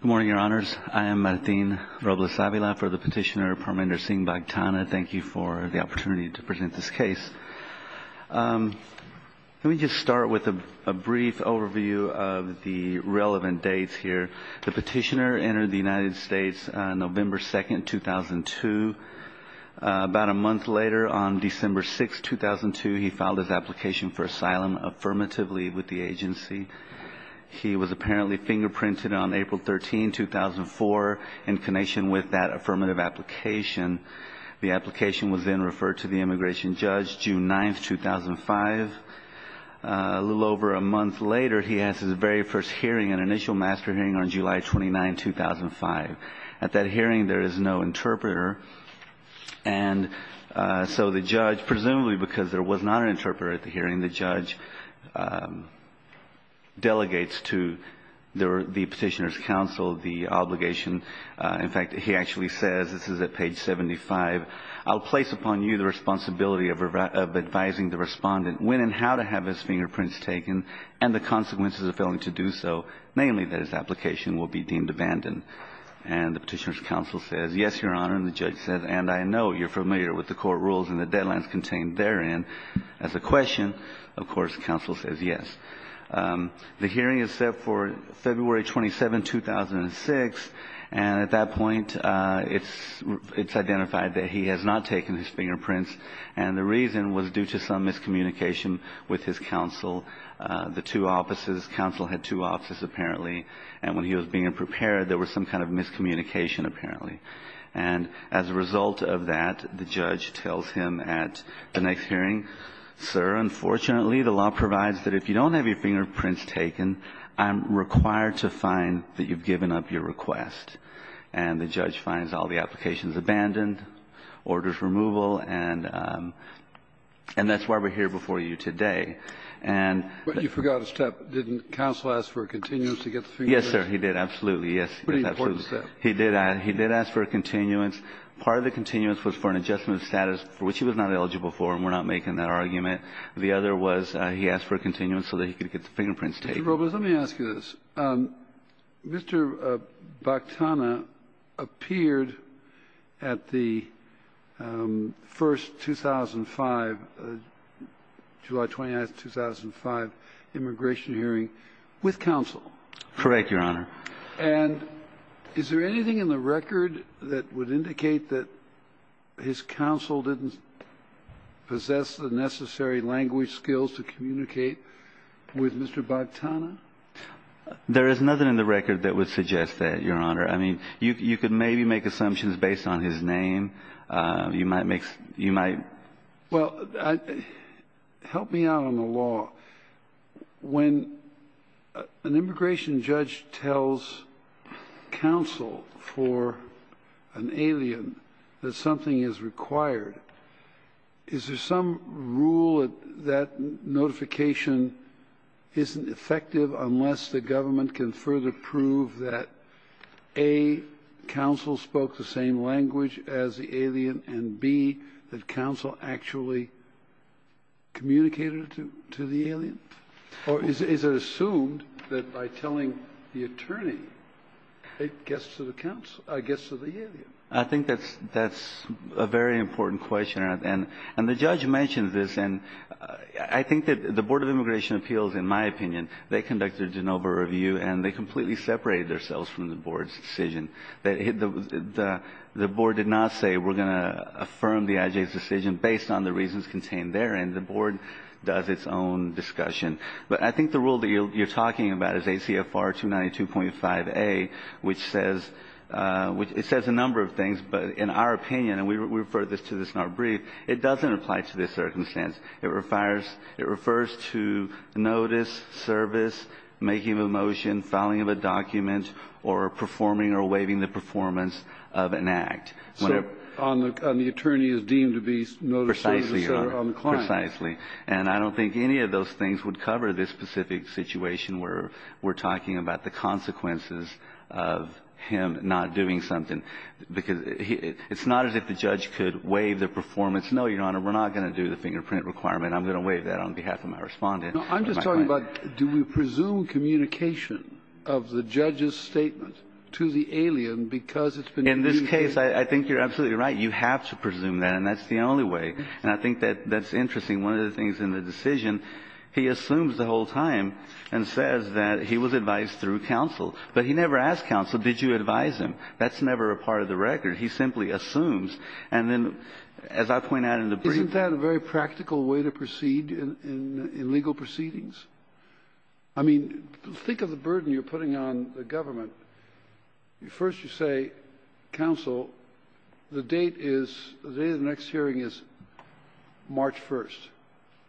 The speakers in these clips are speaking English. Good morning, Your Honors. I am Martin Robles Avila for the petitioner Parminder Singh Bhagtana. Thank you for the opportunity to present this case. Let me just start with a brief overview of the relevant dates here. The petitioner entered the United States November 2, 2002. About a month later, on December 6, 2002, he filed his application for asylum affirmatively with the agency. He was apparently fingerprinted on April 13, 2004, in connection with that affirmative application. The application was then referred to the immigration judge June 9, 2005. A little over a month later, he has his very first hearing, an initial master hearing, on July 29, 2005. At that hearing, there is no interpreter. And so the judge, presumably because there was not an interpreter at the hearing, the judge delegates to the petitioner's counsel the obligation. In fact, he actually says, this is at page 75, I'll place upon you the responsibility of advising the respondent when and how to have his fingerprints taken, and the consequences of failing to do so, namely that his application will be deemed abandoned. And the petitioner's counsel says, yes, Your Honor. And the judge says, and I know you're familiar with the court rules and the deadlines contained therein. As a question, of course, counsel says yes. The hearing is set for February 27, 2006. And at that point, it's identified that he has not taken his fingerprints. And the reason was due to some miscommunication with his counsel. The two offices, counsel had two offices apparently. And when he was being prepared, there was some kind of miscommunication apparently. And as a result of that, the judge tells him at the next hearing, sir, unfortunately, the law provides that if you don't have your fingerprints taken, I'm required to find that you've given up your request. And the judge finds all the applications abandoned, orders removal, and that's why we're here before you today. And you forgot a step. Didn't counsel ask for a continuance to get the fingerprints? Yes, sir. He did. Absolutely. Pretty important step. He did. He did ask for a continuance. Part of the continuance was for an adjustment of status, which he was not eligible for. And we're not making that argument. The other was he asked for a continuance so that he could get the fingerprints taken. Mr. Robles, let me ask you this. Mr. Bactana appeared at the first 2005, July 29, 2005, immigration hearing with counsel. Correct, Your Honor. And is there anything in the record that would indicate that his counsel didn't possess the necessary language skills to communicate with Mr. Bactana? There is nothing in the record that would suggest that, Your Honor. I mean, you could maybe make assumptions based on his name. You might make you might. Well, help me out on the law. When an immigration judge tells counsel for an alien that something is required, is there some rule that that notification isn't effective unless the government can further prove that, A, counsel spoke the same language as the alien, and, B, that counsel actually communicated it to the alien? Or is it assumed that by telling the attorney, it gets to the counsel or gets to the alien? I think that's a very important question. And the judge mentioned this. And I think that the Board of Immigration Appeals, in my opinion, they conducted a de novo review, and they completely separated themselves from the board's decision. The board did not say we're going to affirm the I.J.'s decision based on the reasons contained therein. The board does its own discussion. But I think the rule that you're talking about is ACFR 292.5a, which says a number of things. But in our opinion, and we refer to this in our brief, it doesn't apply to this circumstance. It refers to notice, service, making of a motion, filing of a document, or performing or waiving the performance of an act. So on the attorney is deemed to be notice, service, or on the client. Precisely, Your Honor. Precisely. And I don't think any of those things would cover this specific situation where we're talking about the consequences of him not doing something. Because it's not as if the judge could waive the performance. No, Your Honor, we're not going to do the fingerprint requirement. I'm going to waive that on behalf of my Respondent. No, I'm just talking about, do we presume communication of the judge's statement to the alien because it's been used? In this case, I think you're absolutely right. You have to presume that. And that's the only way. And I think that that's interesting. One of the things in the decision, he assumes the whole time and says that he was advised through counsel. But he never asked counsel, did you advise him? That's never a part of the record. He simply assumes. And then, as I point out in the brief, Isn't that a very practical way to proceed in legal proceedings? I mean, think of the burden you're putting on the government. First, you say, counsel, the date is, the date of the next hearing is March 1st.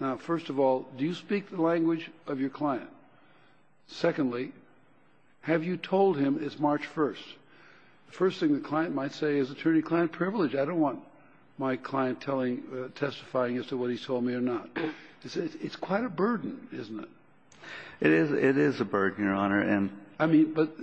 Now, first of all, do you speak the language of your client? Secondly, have you told him it's March 1st? The first thing the client might say is attorney-client privilege. I don't want my client telling, testifying as to what he's told me or not. It's quite a burden, isn't it? It is a burden, Your Honor. I mean, but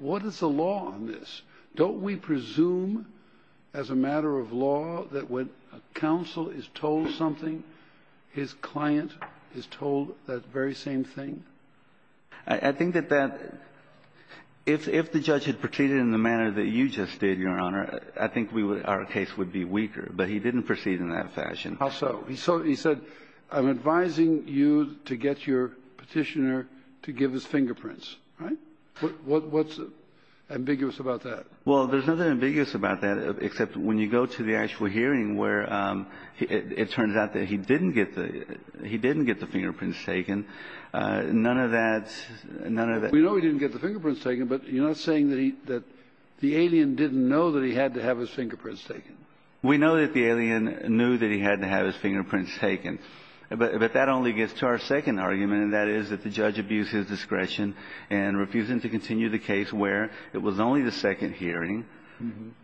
what is the law on this? Don't we presume as a matter of law that when a counsel is told something, his client is told that very same thing? I think that that, if the judge had proceeded in the manner that you just did, Your Honor, the case would be weaker. But he didn't proceed in that fashion. How so? He said, I'm advising you to get your petitioner to give his fingerprints. Right? What's ambiguous about that? Well, there's nothing ambiguous about that, except when you go to the actual hearing where it turns out that he didn't get the fingerprints taken. None of that, none of that. We know he didn't get the fingerprints taken, but you're not saying that the alien didn't know that he had to have his fingerprints taken. We know that the alien knew that he had to have his fingerprints taken, but that only gets to our second argument, and that is that the judge abused his discretion and refused him to continue the case where it was only the second hearing,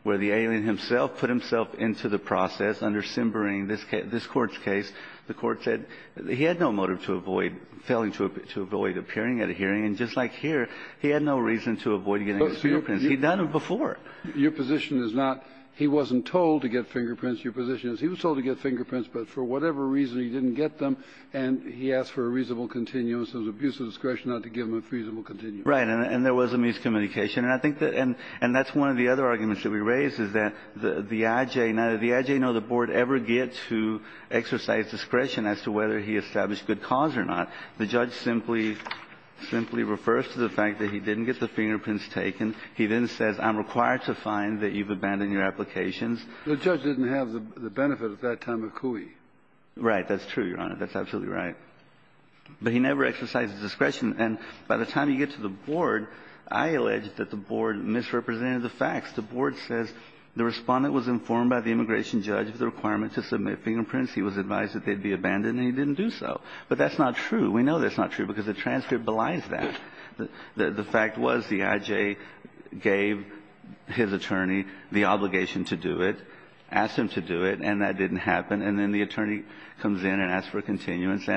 where the alien himself put himself into the process under Simbering, this Court's case. The Court said he had no motive to avoid, failing to avoid appearing at a hearing, and just like here, he had no reason to avoid getting his fingerprints. He'd done it before. Your position is not, he wasn't told to get fingerprints. Your position is he was told to get fingerprints, but for whatever reason he didn't get them, and he asked for a reasonable continuous. It was abuse of discretion not to give him a reasonable continuous. Right. And there was a miscommunication. And I think that's one of the other arguments that we raised, is that the IJ, now, did the IJ know the Board ever get to exercise discretion as to whether he established good cause or not? The judge simply refers to the fact that he didn't get the fingerprints taken. He then says, I'm required to find that you've abandoned your applications. The judge didn't have the benefit at that time of Cooey. Right. That's true, Your Honor. That's absolutely right. But he never exercised discretion. And by the time you get to the Board, I allege that the Board misrepresented the facts. The Board says the Respondent was informed by the immigration judge of the requirement to submit fingerprints. He was advised that they'd be abandoned, and he didn't do so. But that's not true. We know that's not true, because the transcript belies that. The fact was the IJ gave his attorney the obligation to do it, asked him to do it, and that didn't happen. And then the attorney comes in and asks for continuance.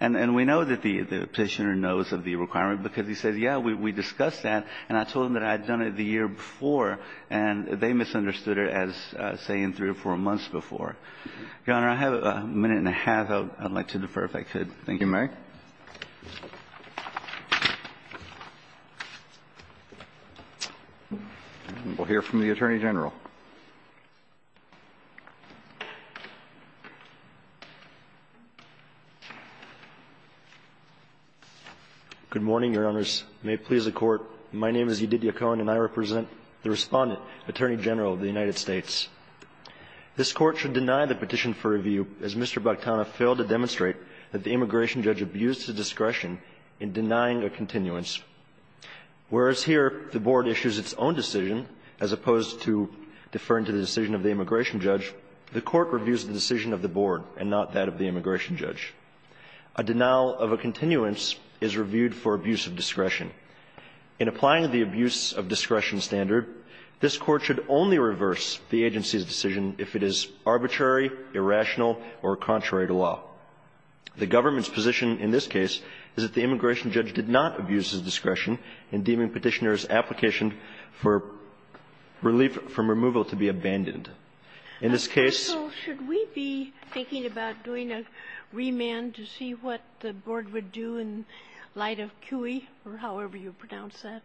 And we know that the Petitioner knows of the requirement, because he says, yeah, we discussed that, and I told him that I had done it the year before, and they misunderstood it as, say, in three or four months before. Your Honor, I have a minute and a half. I'd like to defer if I could. Thank you, Mary. We'll hear from the Attorney General. Good morning, Your Honors. May it please the Court. My name is Edith Yacone, and I represent the Respondent, Attorney General of the United States. This Court should deny the petition for review, as Mr. Bakhtanov failed to demonstrate that the immigration judge abused his discretion in denying a continuance. Whereas here the Board issues its own decision, as opposed to deferring to the decision of the immigration judge, the Court reviews the decision of the Board and not that of the immigration judge. A denial of a continuance is reviewed for abuse of discretion. In applying the abuse of discretion standard, this Court should only reverse the agency's decision if it is arbitrary, irrational, or contrary to law. The government's position in this case is that the immigration judge did not abuse his discretion in deeming Petitioner's application for relief from removal to be abandoned. In this case --" Sotomayor, should we be thinking about doing a remand to see what the Board would do in light of CUI, or however you pronounce that?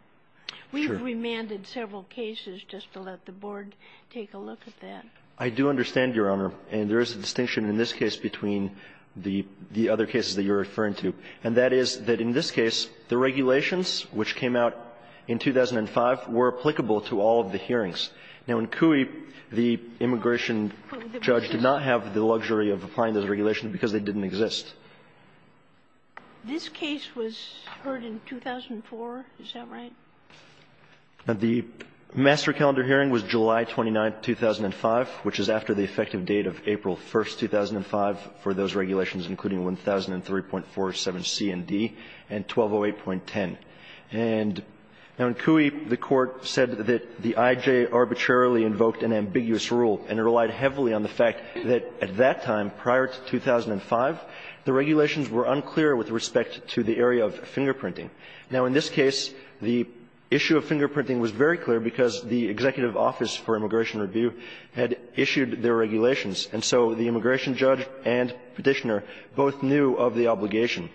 We've remanded several cases just to let the Board take a look at that. I do understand, Your Honor. And there is a distinction in this case between the other cases that you're referring to, and that is that in this case, the regulations, which came out in 2005, were applicable to all of the hearings. Now, in CUI, the immigration judge did not have the luxury of applying those regulations because they didn't exist. This case was heard in 2004. Is that right? The master calendar hearing was July 29, 2005, which is after the effective date of April 1, 2005, for those regulations, including 1003.47c and d, and 1208.10. And in CUI, the Court said that the IJ arbitrarily invoked an ambiguous rule, and it relied heavily on the fact that at that time, prior to 2005, the regulations were unclear with respect to the area of fingerprinting. Now, in this case, the issue of fingerprinting was very clear because the Executive Office for Immigration Review had issued their regulations, and so the immigration judge and Petitioner both knew of the obligation.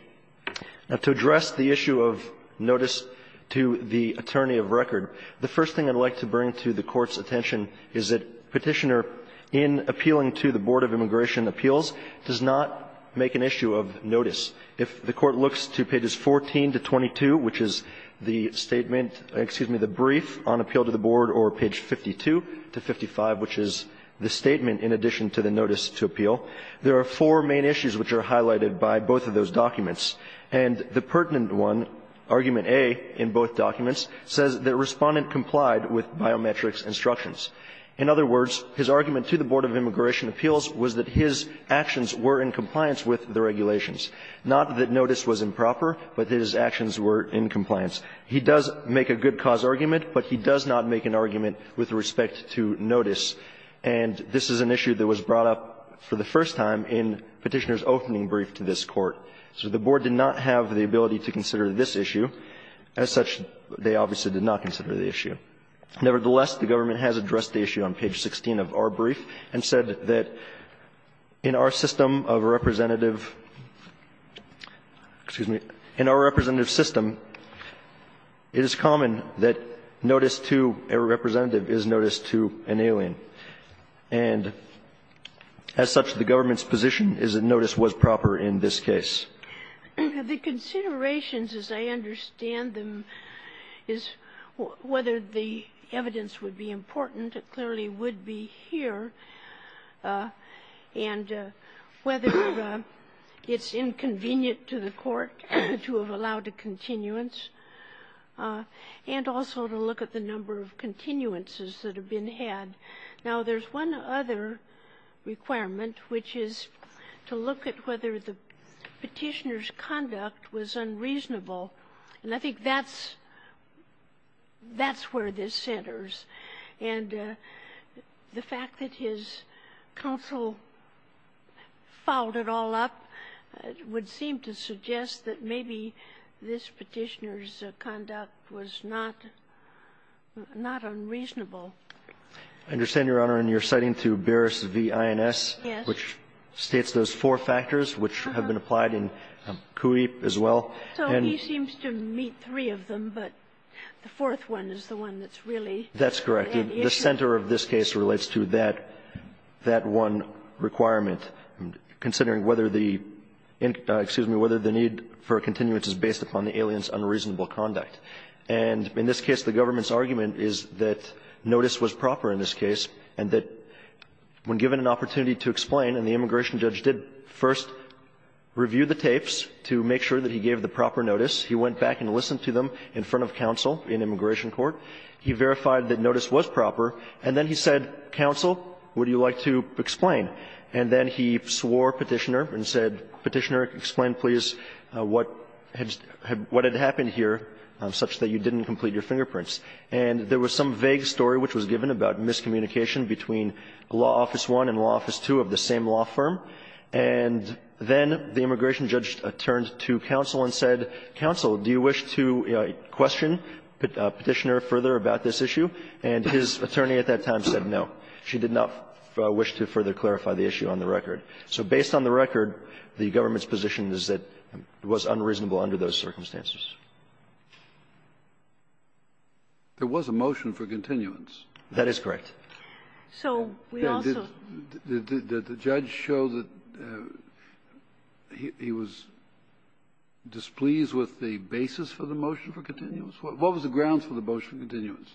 Now, to address the issue of notice to the attorney of record, the first thing I'd like to bring to the Court's attention is that Petitioner, in appealing to the Board of Immigration Appeals, does not make an issue of notice. If the Court looks to pages 14 to 22, which is the statement, excuse me, the brief on appeal to the Board, or page 52 to 55, which is the statement in addition to the notice to appeal, there are four main issues which are highlighted by both of those with biometrics instructions. In other words, his argument to the Board of Immigration Appeals was that his actions were in compliance with the regulations, not that notice was improper, but that his actions were in compliance. He does make a good cause argument, but he does not make an argument with respect to notice, and this is an issue that was brought up for the first time in Petitioner's opening brief to this Court. So the Board did not have the ability to consider this issue. As such, they obviously did not consider the issue. Nevertheless, the government has addressed the issue on page 16 of our brief and said that in our system of representative, excuse me, in our representative system, it is common that notice to a representative is notice to an alien. And as such, the government's position is that notice was proper in this case. The considerations, as I understand them, is whether the evidence would be important, it clearly would be here, and whether it's inconvenient to the Court to have allowed a continuance, and also to look at the number of continuances that have been had. Now, there's one other requirement, which is to look at whether the Petitioner's conduct was unreasonable. And I think that's where this centers. And the fact that his counsel fouled it all up would seem to suggest that maybe this Petitioner's conduct was not unreasonable. I understand, Your Honor, and you're citing to Barris v. INS, which states those four factors, which have been applied in Cui as well. So he seems to meet three of them, but the fourth one is the one that's really That's correct. The center of this case relates to that one requirement, considering whether the need for a continuance is based upon the alien's unreasonable conduct. And in this case, the government's argument is that notice was proper in this case, and that when given an opportunity to explain, and the immigration judge did first review the tapes to make sure that he gave the proper notice, he went back and listened to them in front of counsel in immigration court, he verified that notice was proper, and then he said, Counsel, would you like to explain? And then he swore Petitioner and said, Petitioner, explain, please, what had happened here such that you didn't complete your fingerprints? And there was some vague story which was given about miscommunication between Law Office I and Law Office II of the same law firm. And then the immigration judge turned to counsel and said, Counsel, do you wish to question Petitioner further about this issue? And his attorney at that time said no. She did not wish to further clarify the issue on the record. So based on the record, the government's position is that it was unreasonable under those circumstances. There was a motion for continuance. That is correct. So we also ---- Did the judge show that he was displeased with the basis for the motion for continuance? What was the grounds for the motion for continuance?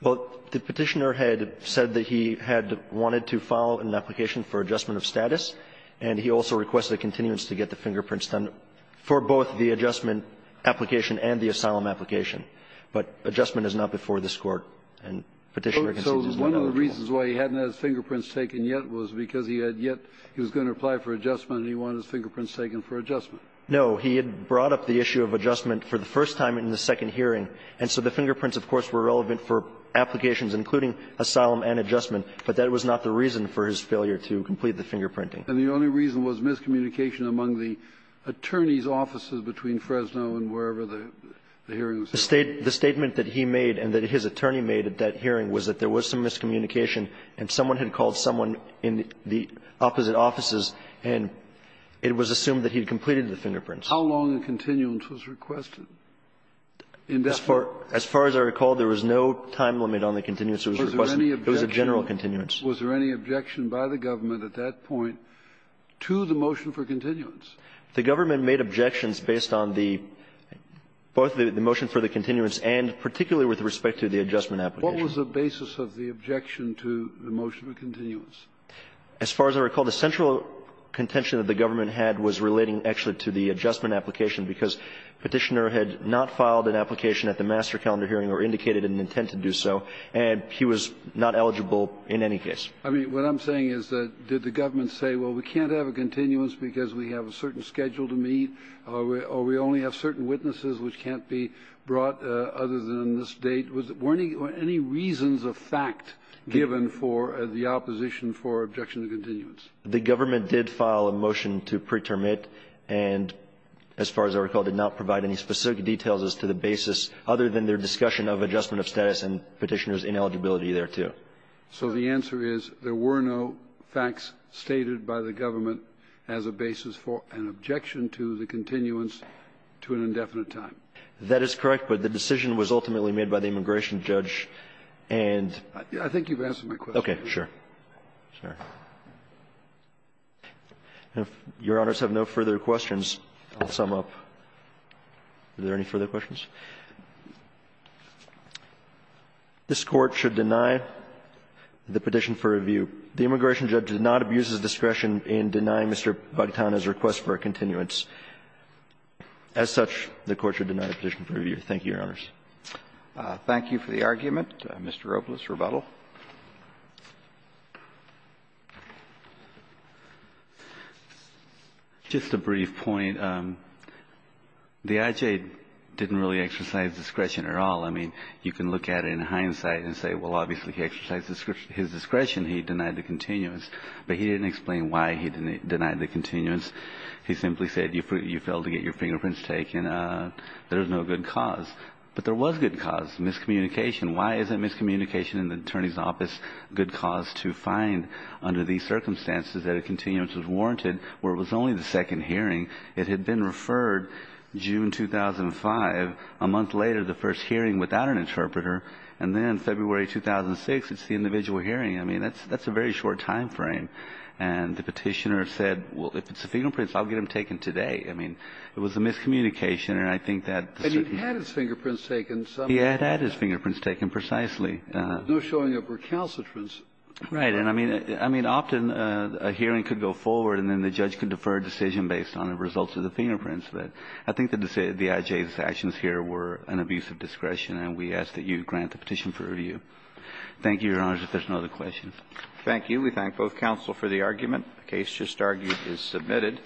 Well, the Petitioner had said that he had wanted to file an application for adjustment of status, and he also requested a continuance to get the fingerprints done for both the adjustment application and the asylum application. But adjustment is not before this Court, and Petitioner concedes it's not eligible. So one of the reasons why he hadn't had his fingerprints taken yet was because he had yet ---- he was going to apply for adjustment, and he wanted his fingerprints taken for adjustment. No. He had brought up the issue of adjustment for the first time in the second hearing. And so the fingerprints, of course, were relevant for applications including asylum and adjustment, but that was not the reason for his failure to complete the fingerprinting. And the only reason was miscommunication among the attorney's offices between Fresno and wherever the hearing was taking place. The statement that he made and that his attorney made at that hearing was that there was some miscommunication, and someone had called someone in the opposite offices, and it was assumed that he had completed the fingerprints. How long a continuance was requested? As far as I recall, there was no time limit on the continuance that was requested. Was there any objection? It was a general continuance. Was there any objection by the government at that point to the motion for continuance? The government made objections based on the ---- both the motion for the continuance and particularly with respect to the adjustment application. What was the basis of the objection to the motion for continuance? As far as I recall, the central contention that the government had was relating actually to the adjustment application because Petitioner had not filed an application at the master calendar hearing or indicated an intent to do so, and he was not eligible in any case. I mean, what I'm saying is that did the government say, well, we can't have a continuance because we have a certain schedule to meet, or we only have certain witnesses which can't be brought other than this date? Were any reasons of fact given for the opposition for objection to continuance? The government did file a motion to pretermit, and as far as I recall, did not provide any specific details as to the basis other than their discussion of adjustment of status and Petitioner's ineligibility thereto. So the answer is there were no facts stated by the government as a basis for an objection to the continuance to an indefinite time? That is correct, but the decision was ultimately made by the immigration judge and ---- I think you've answered my question. Okay. Sure. If Your Honors have no further questions, I'll sum up. Are there any further questions? This Court should deny the petition for review. The immigration judge did not abuse his discretion in denying Mr. Bagtan his request for a continuance. As such, the Court should deny the petition for review. Thank you, Your Honors. Thank you for the argument. Mr. Robles, rebuttal. Just a brief point. The IJ didn't really exercise discretion at all. I mean, you can look at it in hindsight and say, well, obviously, he exercised his discretion. He denied the continuance, but he didn't explain why he denied the continuance. He simply said you failed to get your fingerprints taken. There is no good cause. But there was good cause, miscommunication. Why isn't miscommunication in the Attorney's Office a good cause to find under these circumstances that a continuance was warranted where it was only the second hearing It had been referred June 2005. A month later, the first hearing without an interpreter. And then February 2006, it's the individual hearing. I mean, that's a very short time frame. And the petitioner said, well, if it's the fingerprints, I'll get them taken today. I mean, it was a miscommunication. And I think that the certain And he had his fingerprints taken somehow. He had had his fingerprints taken precisely. No showing of recalcitrance. Right. And I mean, often a hearing could go forward and then the judge could defer a decision based on the results of the fingerprints. But I think that the IJ's actions here were an abuse of discretion. And we ask that you grant the petition for review. Thank you, Your Honor. If there's no other questions. Thank you. We thank both counsel for the argument. The case just argued is submitted.